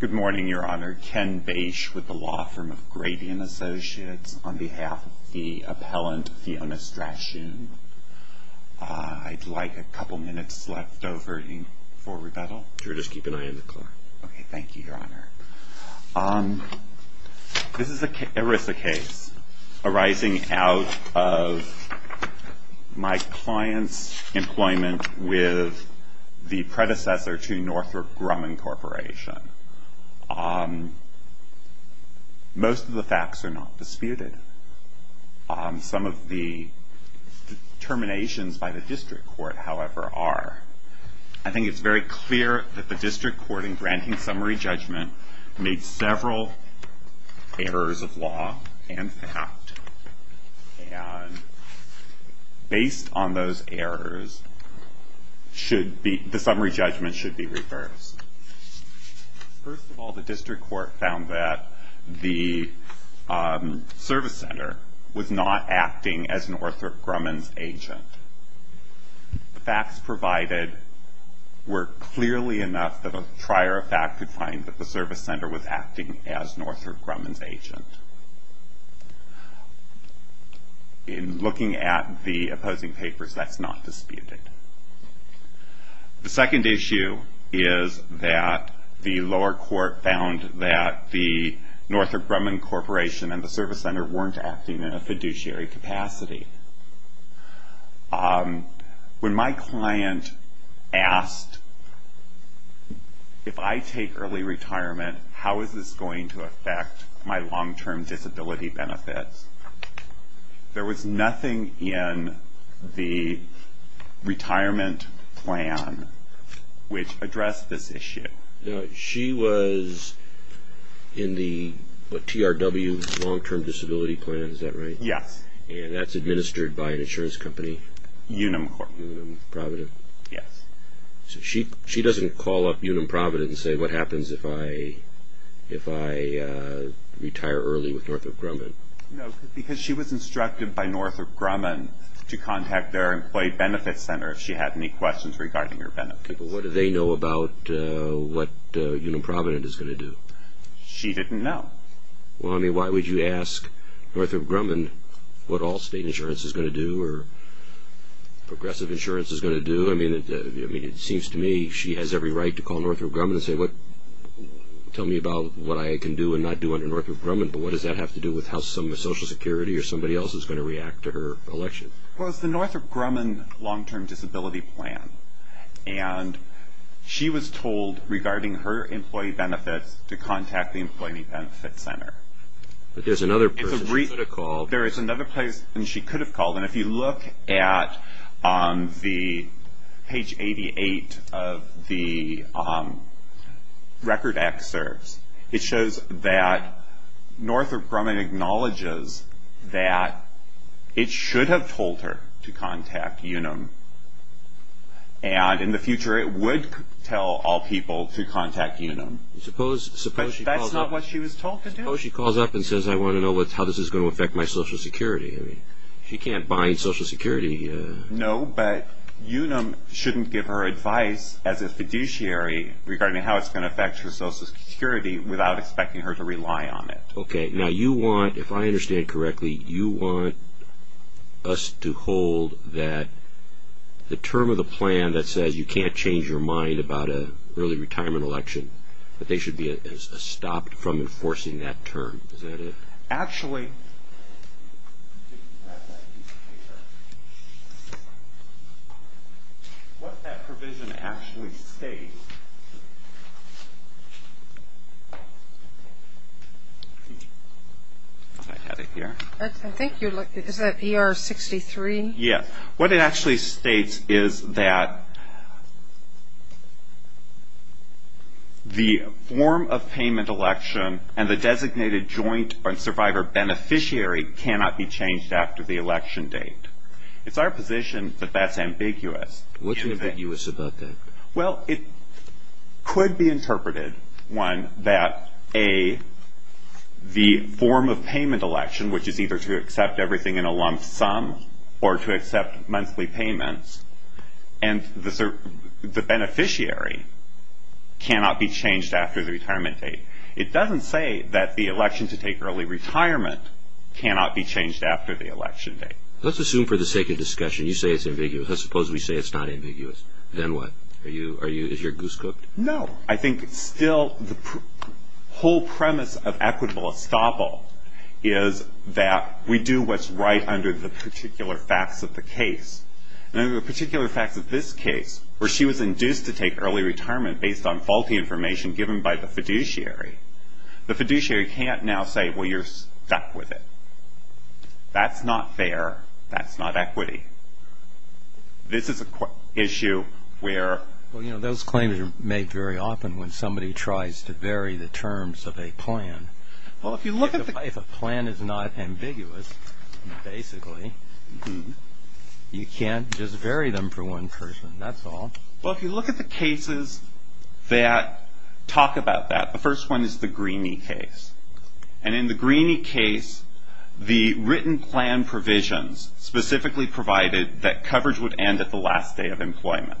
Good morning, Your Honor. Ken Bache with the law firm of Gradian Associates on behalf of the appellant, Fiona Strashoon. I'd like a couple minutes left over for rebuttal. Sure, just keep an eye on the clock. Okay, thank you, Your Honor. This is an ERISA case arising out of my client's employment with the predecessor to Northrop Grumman Corporation. Most of the facts are not disputed. Some of the determinations by the district court, however, are. I think it's very clear that the district court, in granting summary judgment, made several errors of law and fact. And based on those errors, the summary judgment should be reversed. First of all, the district court found that the service center was not acting as Northrop Grumman's agent. The facts provided were clearly enough that a trier of fact could find that the service center was acting as Northrop Grumman's agent. In looking at the opposing papers, that's not disputed. The second issue is that the lower court found that the Northrop Grumman Corporation and the service center weren't acting in a fiduciary capacity. When my client asked, if I take early retirement, how is this going to affect my long-term disability benefits, there was nothing in the retirement plan which addressed this issue. She was in the TRW long-term disability plan, is that right? Yes. And that's administered by an insurance company? Unum Corp. Unum Provident? Yes. So she doesn't call up Unum Provident and say, what happens if I retire early with Northrop Grumman? No, because she was instructed by Northrop Grumman to contact their employee benefits center if she had any questions regarding her benefits. But what do they know about what Unum Provident is going to do? She didn't know. Well, I mean, why would you ask Northrop Grumman what Allstate Insurance is going to do or Progressive Insurance is going to do? I mean, it seems to me she has every right to call Northrop Grumman and say, tell me about what I can do and not do under Northrop Grumman, but what does that have to do with how Social Security or somebody else is going to react to her election? Well, it's the Northrop Grumman long-term disability plan. And she was told regarding her employee benefits to contact the employee benefits center. But there's another person she could have called. There is another person she could have called. And if you look at the page 88 of the record excerpts, it shows that Northrop Grumman acknowledges that it should have told her to contact Unum. And in the future, it would tell all people to contact Unum. But that's not what she was told to do? Suppose she calls up and says, I want to know how this is going to affect my Social Security. She can't bind Social Security. No, but Unum shouldn't give her advice as a fiduciary regarding how it's going to affect her Social Security without expecting her to rely on it. Okay, now you want, if I understand correctly, you want us to hold that the term of the plan that says you can't change your mind about an early retirement election, that they should be stopped from enforcing that term. Is that it? Actually, what that provision actually states, I had it here. I think you looked at, is that ER 63? Yeah, what it actually states is that the form of payment election and the designated joint survivor beneficiary cannot be changed after the election date. It's our position that that's ambiguous. What's ambiguous about that? Well, it could be interpreted, one, that A, the form of payment election, which is either to accept everything in a lump sum or to accept monthly payments, and the beneficiary cannot be changed after the retirement date. It doesn't say that the election to take early retirement cannot be changed after the election date. Let's assume for the sake of discussion, you say it's ambiguous. Let's suppose we say it's not ambiguous. Then what? Are you, is your goose cooked? No. I think still the whole premise of equitable estoppel is that we do what's right under the particular facts of the case. And under the particular facts of this case, where she was induced to take early retirement based on faulty information given by the fiduciary, the fiduciary can't now say, well, you're stuck with it. That's not fair. That's not equity. This is an issue where... Well, you know, those claims are made very often when somebody tries to vary the terms of a plan. Well, if you look at the... If a plan is not ambiguous, basically, you can't just vary them for one person. That's all. Well, if you look at the cases that talk about that, the first one is the Greenie case. And in the Greenie case, the written plan provisions specifically provided that coverage would end at the last day of employment.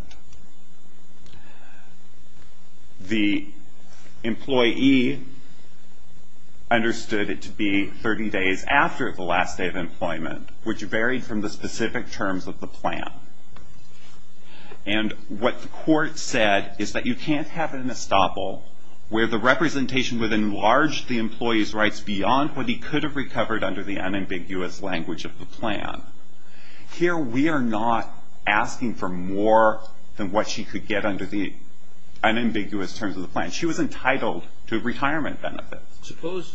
The employee understood it to be 30 days after the last day of employment, which varied from the specific terms of the plan. And what the court said is that you can't have an estoppel where the representation would enlarge the employee's rights beyond what he could have recovered under the unambiguous language of the plan. Here, we are not asking for more than what she could get under the unambiguous terms of the plan. She was entitled to retirement benefits.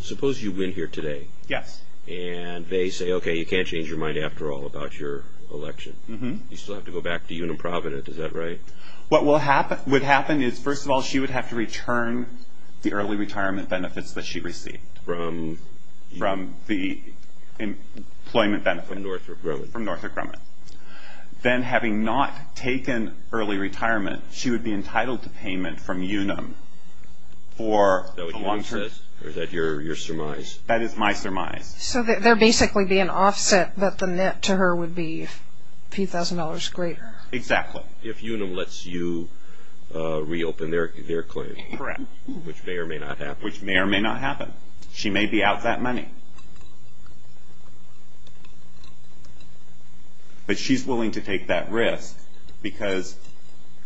Suppose you win here today. Yes. And they say, okay, you can't change your mind after all about your election. Mm-hmm. You still have to go back to Unum Provident. Is that right? What would happen is, first of all, she would have to return the early retirement benefits that she received. From? From the employment benefits. From Northrop Grumman. From Northrop Grumman. Then, having not taken early retirement, she would be entitled to payment from Unum for a long term... Is that what Unum says? Or is that your surmise? That is my surmise. So there would basically be an offset that the net to her would be a few thousand dollars greater. Exactly. If Unum lets you reopen their claim. Correct. Which may or may not happen. Which may or may not happen. She may be out that money. But she's willing to take that risk because,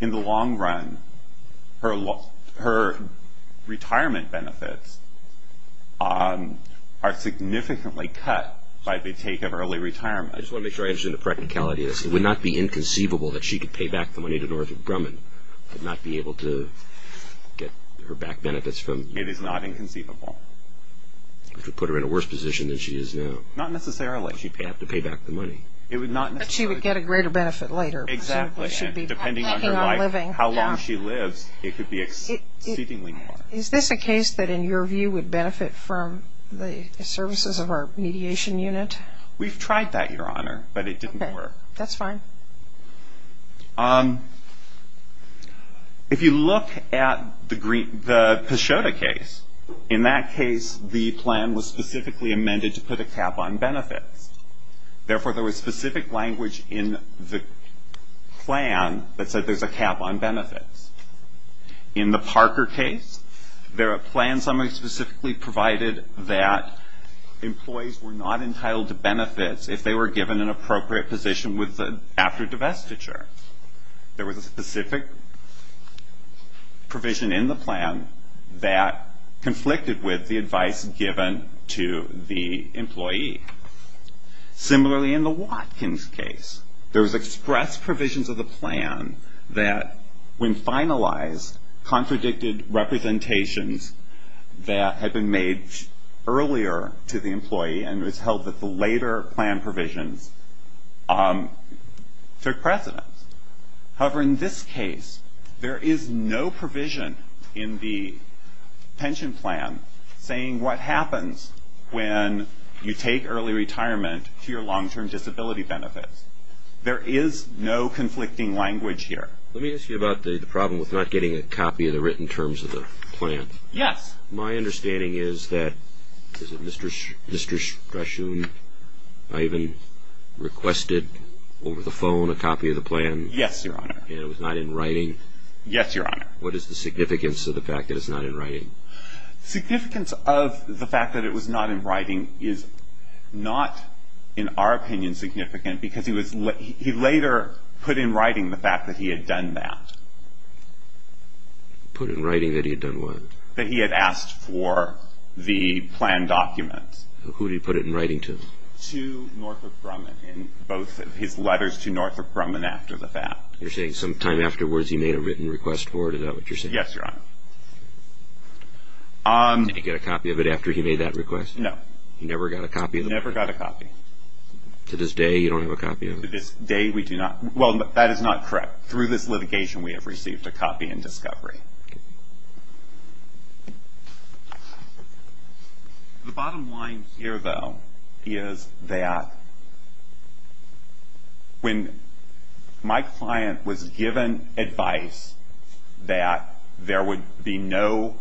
in the long run, her retirement benefits are significantly cut by the take of early retirement. I just want to make sure I understand the practicality of this. It would not be inconceivable that she could pay back the money to Northrop Grumman and not be able to get her back benefits from... It is not inconceivable. It would put her in a worse position than she is now. Not necessarily. She would have to pay back the money. But she would get a greater benefit later. Exactly. Depending on her life, how long she lives, it could be exceedingly more. Is this a case that, in your view, would benefit from the services of our mediation unit? We've tried that, Your Honor, but it didn't work. That's fine. If you look at the Paschota case, in that case, the plan was specifically amended to put a cap on benefits. Therefore, there was specific language in the plan that said there's a cap on benefits. In the Parker case, there are plans that were specifically provided that employees were not entitled to benefits if they were given an appropriate position after divestiture. There was a specific provision in the plan that conflicted with the advice given to the employee. Similarly, in the Watkins case, there was express provisions of the plan that, when finalized, contradicted representations that had been made earlier to the employee and it was held that the later plan provisions took precedence. However, in this case, there is no provision in the pension plan saying what happens when you take early retirement to your long-term disability benefits. There is no conflicting language here. Let me ask you about the problem with not getting a copy of the written terms of the plan. Yes. My understanding is that, is it Mr. Strachan, Ivan requested over the phone a copy of the plan? Yes, Your Honor. And it was not in writing? Yes, Your Honor. What is the significance of the fact that it's not in writing? Significance of the fact that it was not in writing is not, in our opinion, significant because he later put in writing the fact that he had done that. Put in writing that he had done what? That he had asked for the plan document. Who did he put it in writing to? To Northrop Grumman in both of his letters to Northrop Grumman after the fact. You're saying sometime afterwards he made a written request for it, is that what you're saying? Yes, Your Honor. Did he get a copy of it after he made that request? No. He never got a copy of it? Never got a copy. To this day you don't have a copy of it? To this day we do not, well that is not correct. Through this litigation we have received a copy in discovery. The bottom line here though is that when my client was given advice that there would be no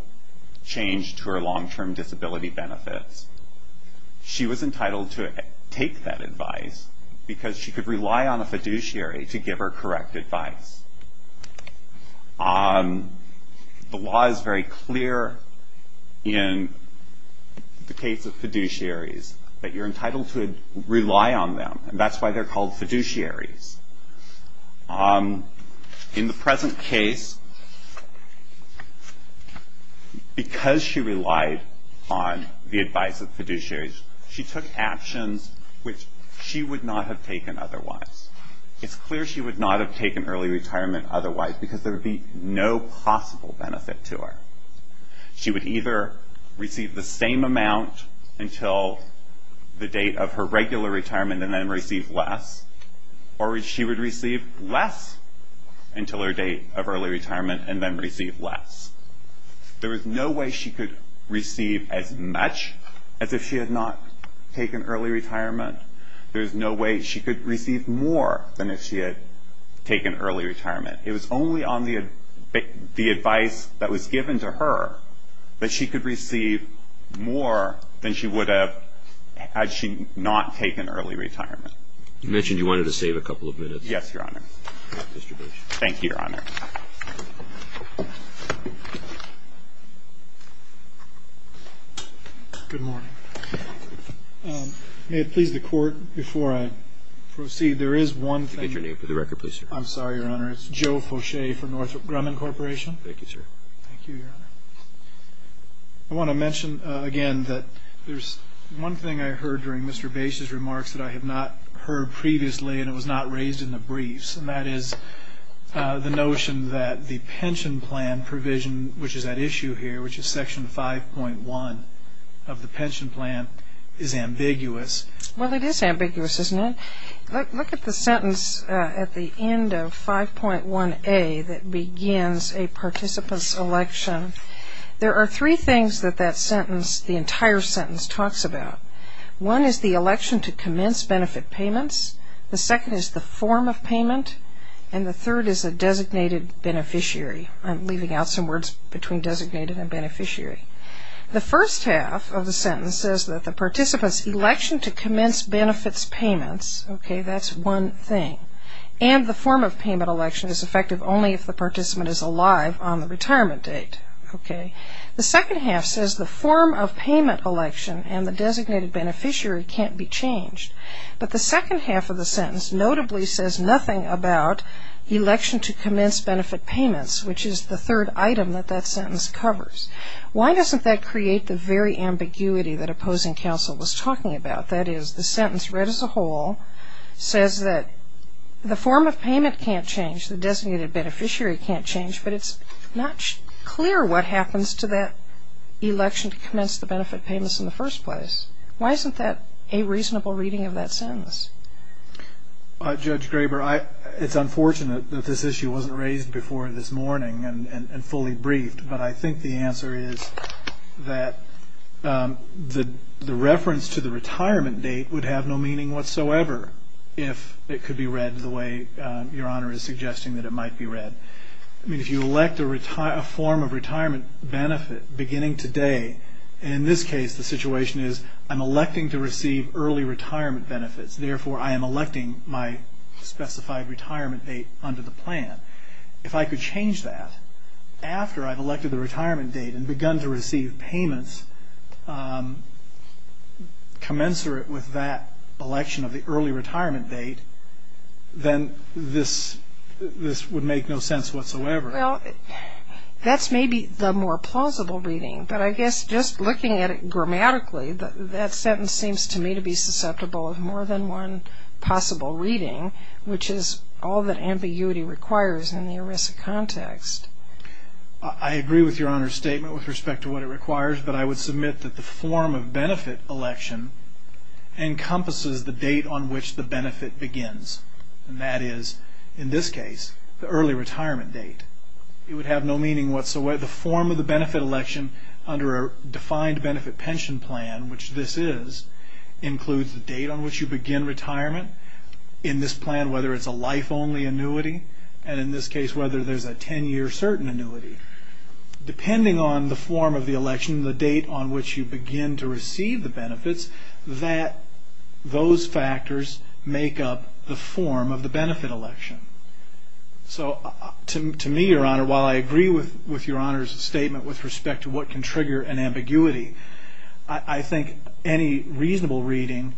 change to her long-term disability benefits, she was entitled to take that advice because she could rely on a fiduciary to give her correct advice. The law is very clear in the case of fiduciaries that you're entitled to rely on them and that's why they're called fiduciaries. In the present case, because she relied on the advice of fiduciaries, she took actions which she would not have taken otherwise. It's clear she would not have taken early retirement otherwise because there would be no possible benefit to her. She would either receive the same amount until the date of her regular retirement and then receive less, or she would receive less until her date of early retirement and then receive less. There is no way she could receive as much as if she had not taken early retirement. There is no way she could receive more than if she had taken early retirement. It was only on the advice that was given to her that she could receive more than she would have had she not taken early retirement. You mentioned you wanted to save a couple of minutes. Yes, Your Honor. Thank you, Your Honor. Good morning. May it please the Court, before I proceed, there is one thing. Could you get your name for the record, please? I'm sorry, Your Honor. It's Joe Fauche from Northrop Grumman Corporation. Thank you, sir. Thank you, Your Honor. I want to mention again that there's one thing I heard during Mr. Bates' remarks that I had not heard previously and it was not raised in the briefs, and that is the notion that the pension plan provision, which is at issue here, which is Section 5.1 of the pension plan, is ambiguous. Well, it is ambiguous, isn't it? Look at the sentence at the end of 5.1a that begins a participant's election. There are three things that that sentence, the entire sentence, talks about. One is the election to commence benefit payments. The second is the form of payment. And the third is a designated beneficiary. I'm leaving out some words between designated and beneficiary. The first half of the sentence says that the participant's election to commence benefits payments, that's one thing, and the form of payment election is effective only if the participant is alive on the retirement date. The second half says the form of payment election and the designated beneficiary can't be changed. But the second half of the sentence notably says nothing about election to commence benefit payments, which is the third item that that sentence covers. Why doesn't that create the very ambiguity that opposing counsel was talking about? That is, the sentence read as a whole says that the form of payment can't change, the designated beneficiary can't change, but it's not clear what happens to that election to commence the benefit payments in the first place. Why isn't that a reasonable reading of that sentence? Judge Graber, it's unfortunate that this issue wasn't raised before this morning and fully briefed, but I think the answer is that the reference to the retirement date would have no meaning whatsoever if it could be read the way Your Honor is suggesting that it might be read. If you elect a form of retirement benefit beginning today, in this case the situation is I'm electing to receive early retirement benefits, therefore I am electing my specified retirement date under the plan. If I could change that after I've elected the retirement date and begun to receive payments commensurate with that election of the early retirement date, then this would make no sense whatsoever. Well, that's maybe the more plausible reading, but I guess just looking at it grammatically, that sentence seems to me to be susceptible of more than one possible reading, which is all that ambiguity requires in the ERISA context. I agree with Your Honor's statement with respect to what it requires, but I would submit that the form of benefit election encompasses the date on which the benefit begins, and that is, in this case, the early retirement date. It would have no meaning whatsoever. The form of the benefit election under a defined benefit pension plan, which this is, includes the date on which you begin retirement, in this plan whether it's a life-only annuity, and in this case whether there's a 10-year certain annuity. Depending on the form of the election, the date on which you begin to receive the benefits, those factors make up the form of the benefit election. So to me, Your Honor, while I agree with Your Honor's statement with respect to what can trigger an ambiguity, I think any reasonable reading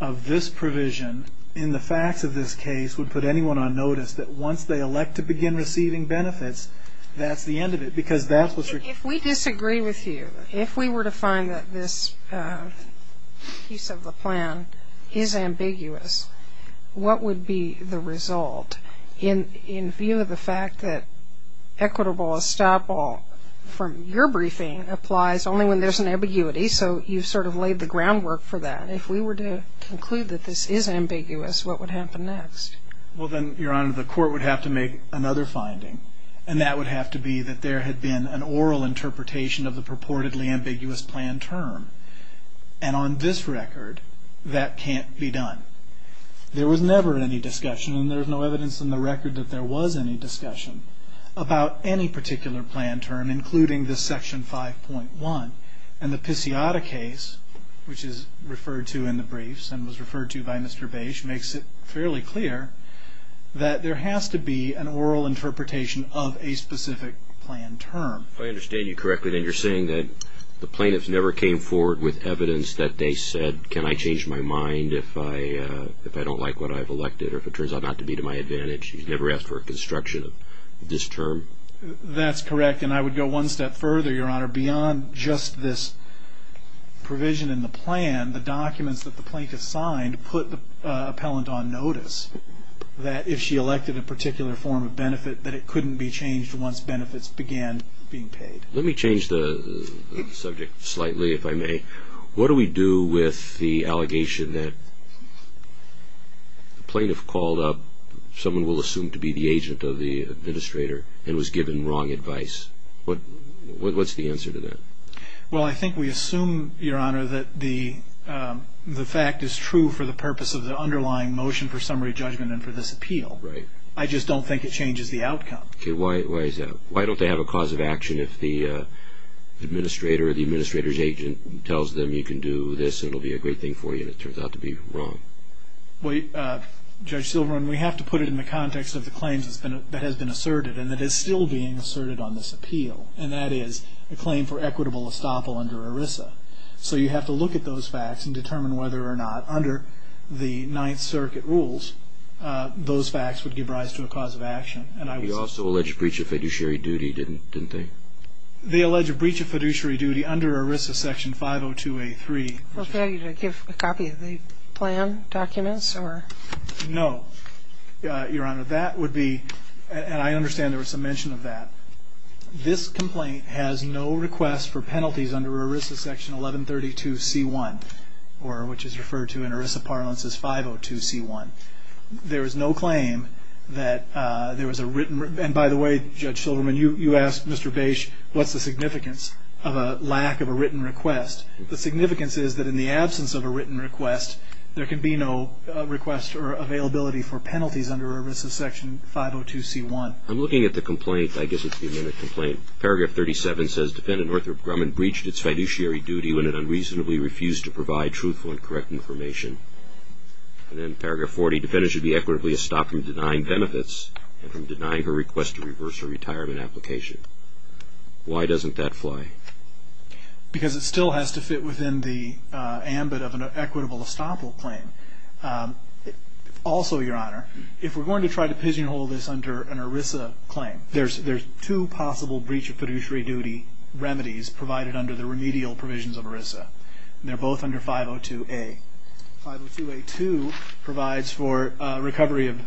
of this provision in the facts of this case would put anyone on notice that once they elect to begin receiving benefits, that's the end of it because that's what's required. If we disagree with you, if we were to find that this piece of the plan is ambiguous, what would be the result in view of the fact that equitable estoppel from your briefing applies only when there's an ambiguity, so you've sort of laid the groundwork for that. If we were to conclude that this is ambiguous, what would happen next? Well, then, Your Honor, the court would have to make another finding, and that would have to be that there had been an oral interpretation of the purportedly ambiguous plan term, and on this record that can't be done. There was never any discussion, and there's no evidence in the record that there was any discussion, about any particular plan term, including this Section 5.1. And the Pisciotta case, which is referred to in the briefs and was referred to by Mr. Bache, makes it fairly clear that there has to be an oral interpretation of a specific plan term. If I understand you correctly, then you're saying that the plaintiffs never came forward with evidence that they said, can I change my mind if I don't like what I've elected, or if it turns out not to be to my advantage? You never asked for a construction of this term? That's correct, and I would go one step further, Your Honor. Beyond just this provision in the plan, the documents that the plaintiff signed put the appellant on notice that if she elected a particular form of benefit that it couldn't be changed once benefits began being paid. Let me change the subject slightly, if I may. What do we do with the allegation that the plaintiff called up someone we'll assume to be the agent of the administrator and was given wrong advice? What's the answer to that? Well, I think we assume, Your Honor, that the fact is true for the purpose of the underlying motion for summary judgment and for this appeal. Right. I just don't think it changes the outcome. Okay, why is that? Why don't they have a cause of action if the administrator or the administrator's agent tells them you can do this and it'll be a great thing for you and it turns out to be wrong? Judge Silverman, we have to put it in the context of the claims that has been asserted and that is still being asserted on this appeal, and that is a claim for equitable estoppel under ERISA. So you have to look at those facts and determine whether or not under the Ninth Circuit rules those facts would give rise to a cause of action. They also allege a breach of fiduciary duty, didn't they? They allege a breach of fiduciary duty under ERISA Section 502A3. Okay. Well, can I get a copy of the plan documents? No, Your Honor. That would be, and I understand there was some mention of that. This complaint has no request for penalties under ERISA Section 1132C1, which is referred to in ERISA parlance as 502C1. There is no claim that there was a written, and by the way, Judge Silverman, you asked Mr. Bache what's the significance of a lack of a written request. The significance is that in the absence of a written request, there can be no request or availability for penalties under ERISA Section 502C1. I'm looking at the complaint. I guess it's the amended complaint. Paragraph 37 says, Defendant Arthur Grumman breached its fiduciary duty when it unreasonably refused to provide truthful and correct information. And then Paragraph 40, Defendant should be equitably estopped from denying benefits and from denying her request to reverse her retirement application. Why doesn't that fly? Because it still has to fit within the ambit of an equitable estoppel claim. Also, Your Honor, if we're going to try to pigeonhole this under an ERISA claim, there's two possible breach of fiduciary duty remedies provided under the remedial provisions of ERISA. They're both under 502A. 502A2 provides for recovery of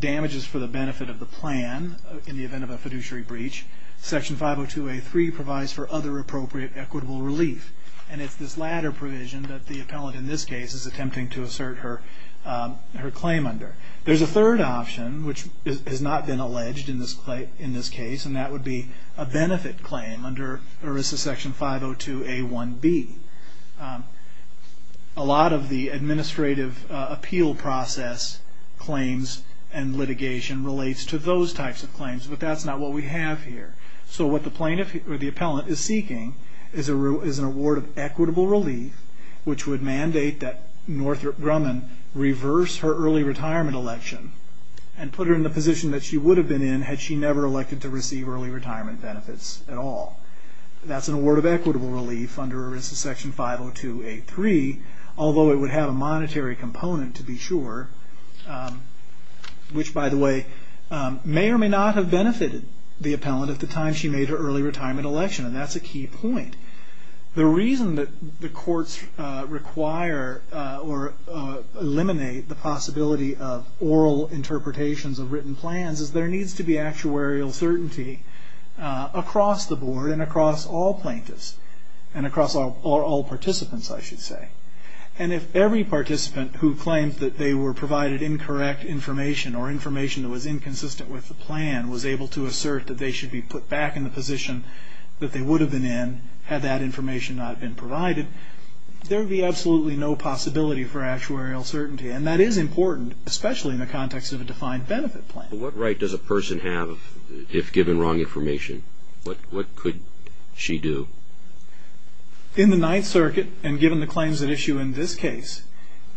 damages for the benefit of the plan in the event of a fiduciary breach. Section 502A3 provides for other appropriate equitable relief. And it's this latter provision that the appellant in this case is attempting to assert her claim under. There's a third option, which has not been alleged in this case, and that would be a benefit claim under ERISA Section 502A1B. A lot of the administrative appeal process claims and litigation relates to those types of claims, but that's not what we have here. So what the plaintiff or the appellant is seeking is an award of equitable relief, which would mandate that Northrop Grumman reverse her early retirement election and put her in the position that she would have been in had she never elected to receive early retirement benefits at all. That's an award of equitable relief under ERISA Section 502A3, although it would have a monetary component to be sure, which, by the way, may or may not have benefited the appellant at the time she made her early retirement election, and that's a key point. The reason that the courts require or eliminate the possibility of oral interpretations of written plans is there needs to be actuarial certainty across the board and across all plaintiffs and across all participants, I should say. And if every participant who claims that they were provided incorrect information or information that was inconsistent with the plan was able to assert that they should be put back in the position that they would have been in had that information not been provided, there would be absolutely no possibility for actuarial certainty, and that is important, especially in the context of a defined benefit plan. What right does a person have if given wrong information? What could she do? In the Ninth Circuit, and given the claims at issue in this case,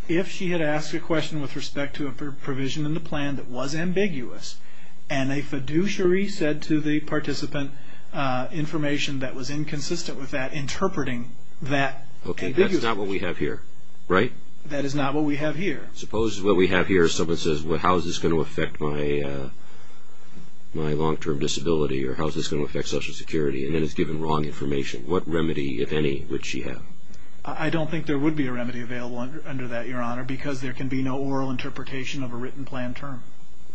if she had asked a question with respect to a provision in the plan that was ambiguous and a fiduciary said to the participant information that was inconsistent with that, interpreting that ambiguous information. Okay, that's not what we have here, right? That is not what we have here. Suppose what we have here is someone says, well, how is this going to affect my long-term disability, or how is this going to affect Social Security? And then it's given wrong information. What remedy, if any, would she have? I don't think there would be a remedy available under that, Your Honor, because there can be no oral interpretation of a written plan term.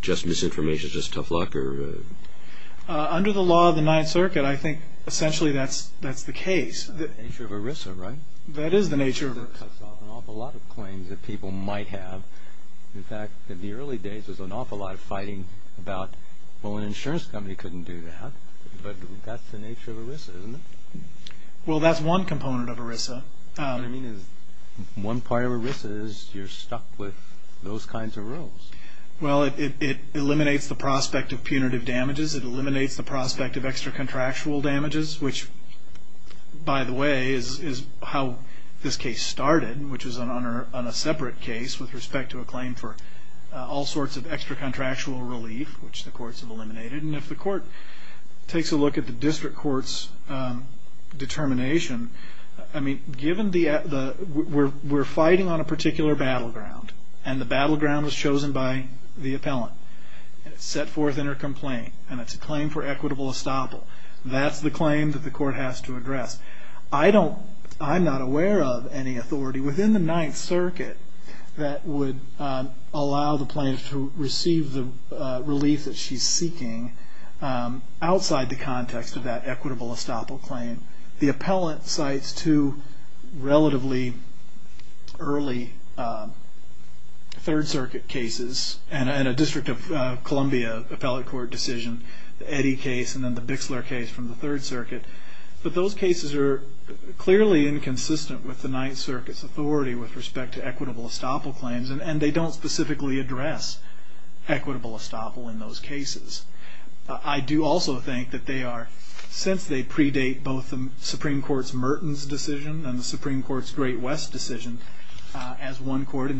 Just misinformation, just tough luck? Under the law of the Ninth Circuit, I think essentially that's the case. That's the nature of ERISA, right? That is the nature of ERISA. ERISA cuts off an awful lot of claims that people might have. In fact, in the early days, there was an awful lot of fighting about, well, an insurance company couldn't do that, but that's the nature of ERISA, isn't it? Well, that's one component of ERISA. What I mean is one part of ERISA is you're stuck with those kinds of rules. Well, it eliminates the prospect of punitive damages. It eliminates the prospect of extra-contractual damages, which, by the way, is how this case started, which was on a separate case with respect to a claim for all sorts of extra-contractual relief, which the courts have eliminated. And if the court takes a look at the district court's determination, I mean, we're fighting on a particular battleground, and the battleground was chosen by the appellant. It's set forth in her complaint, and it's a claim for equitable estoppel. That's the claim that the court has to address. I'm not aware of any authority within the Ninth Circuit that would allow the plaintiff to receive the relief that she's seeking outside the context of that equitable estoppel claim. The appellant cites two relatively early Third Circuit cases and a District of Columbia appellate court decision, the Eddy case and then the Bixler case from the Third Circuit. But those cases are clearly inconsistent with the Ninth Circuit's authority with respect to equitable estoppel claims, and they don't specifically address equitable estoppel in those cases. I do also think that they are, since they predate both the Supreme Court's Mertens decision and the Supreme Court's Great West decision, as one court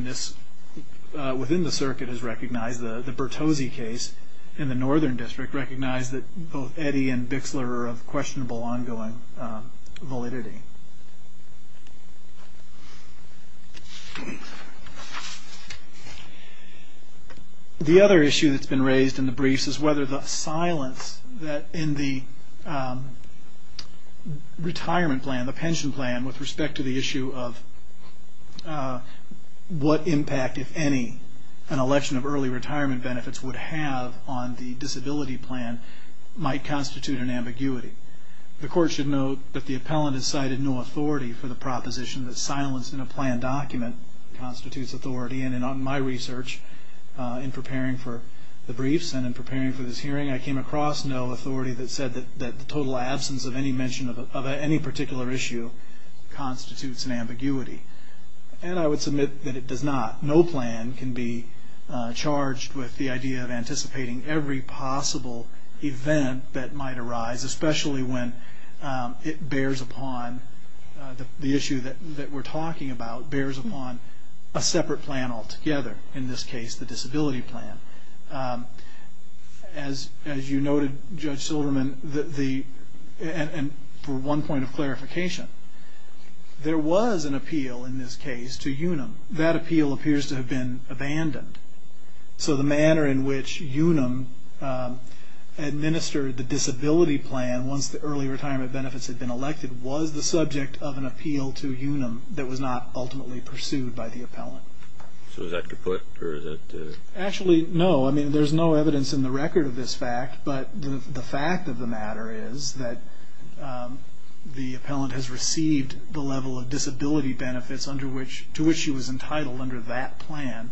within the Circuit has recognized, the Bertozzi case in the Northern District recognized that both Eddy and Bixler are of questionable ongoing validity. The other issue that's been raised in the briefs is whether the silence in the retirement plan, the pension plan, with respect to the issue of what impact, if any, an election of early retirement benefits would have on the disability plan might constitute an ambiguity. I submitted no authority for the proposition that silence in a plan document constitutes authority, and in my research, in preparing for the briefs and in preparing for this hearing, I came across no authority that said that the total absence of any mention of any particular issue constitutes an ambiguity. And I would submit that it does not. No plan can be charged with the idea of anticipating every possible event that might arise, especially when it bears upon the issue that we're talking about, bears upon a separate plan altogether, in this case the disability plan. As you noted, Judge Silverman, and for one point of clarification, there was an appeal in this case to UNUM. That appeal appears to have been abandoned. So the manner in which UNUM administered the disability plan once the early retirement benefits had been elected was the subject of an appeal to UNUM that was not ultimately pursued by the appellant. So is that to put? Actually, no. I mean, there's no evidence in the record of this fact, but the fact of the matter is that the appellant has received the level of disability benefits to which she was entitled under that plan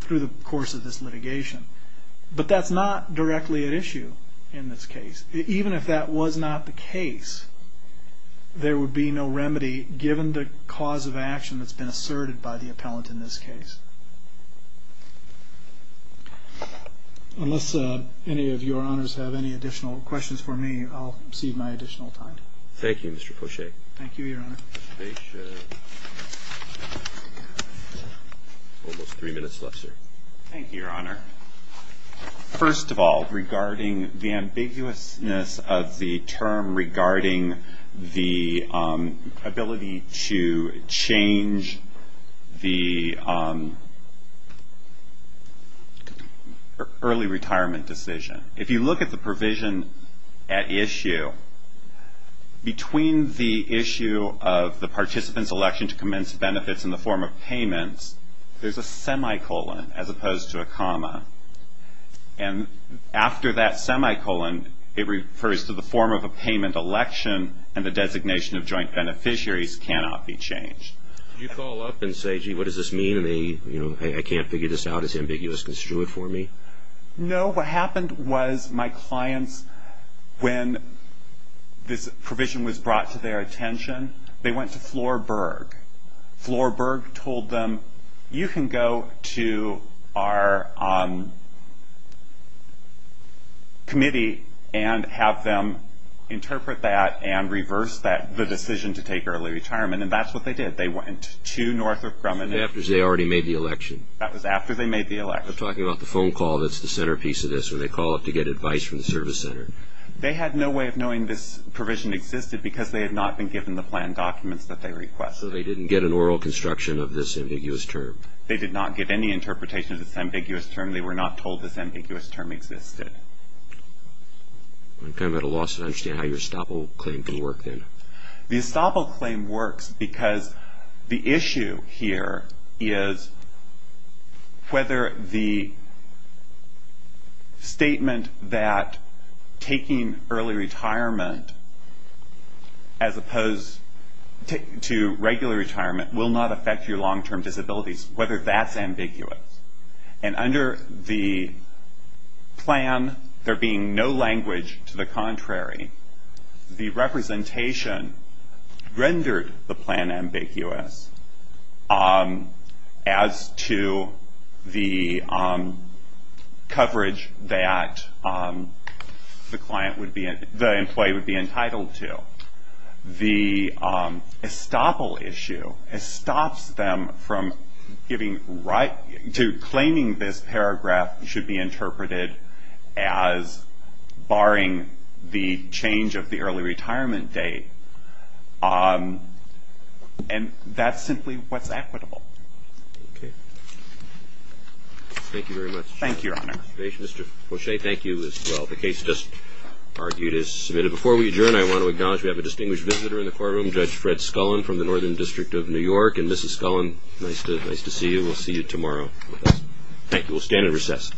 through the course of this litigation. But that's not directly at issue in this case. Even if that was not the case, there would be no remedy given the cause of action that's been asserted by the appellant in this case. Unless any of your honors have any additional questions for me, I'll cede my additional time. Thank you, Mr. Poche. Thank you, Your Honor. Patience. Almost three minutes left, sir. Thank you, Your Honor. First of all, regarding the ambiguousness of the term regarding the ability to change the early retirement decision. If you look at the provision at issue, between the issue of the participant's election to commence benefits in the form of payments, there's a semicolon as opposed to a comma. And after that semicolon, it refers to the form of a payment election and the designation of joint beneficiaries cannot be changed. You call up and say, gee, what does this mean? And they, you know, hey, I can't figure this out. It's ambiguous. Construe it for me. No, what happened was my clients, when this provision was brought to their attention, they went to Florberg. Florberg told them, you can go to our committee and have them interpret that and reverse the decision to take early retirement, and that's what they did. They went to Northrop Grumman. That was after they already made the election. That was after they made the election. I'm talking about the phone call that's the centerpiece of this, where they call up to get advice from the service center. They had no way of knowing this provision existed because they had not been given the planned documents that they requested. So they didn't get an oral construction of this ambiguous term. They did not get any interpretation of this ambiguous term. They were not told this ambiguous term existed. I'm kind of at a loss to understand how your estoppel claim can work then. The estoppel claim works because the issue here is whether the statement that taking early retirement as opposed to regular retirement will not affect your long-term disabilities, whether that's ambiguous. Under the plan, there being no language to the contrary, the representation rendered the plan ambiguous as to the coverage that the employee would be entitled to. The estoppel issue stops them from claiming this paragraph should be interpreted as barring the change of the early retirement date. That's simply what's equitable. Thank you very much. Thank you, Your Honor. Mr. Poche, thank you as well. The case just argued is submitted. Before we adjourn, I want to acknowledge we have a distinguished visitor in the courtroom, Judge Fred Scullin from the Northern District of New York. Mrs. Scullin, nice to see you. We'll see you tomorrow. Thank you. We'll stand at recess.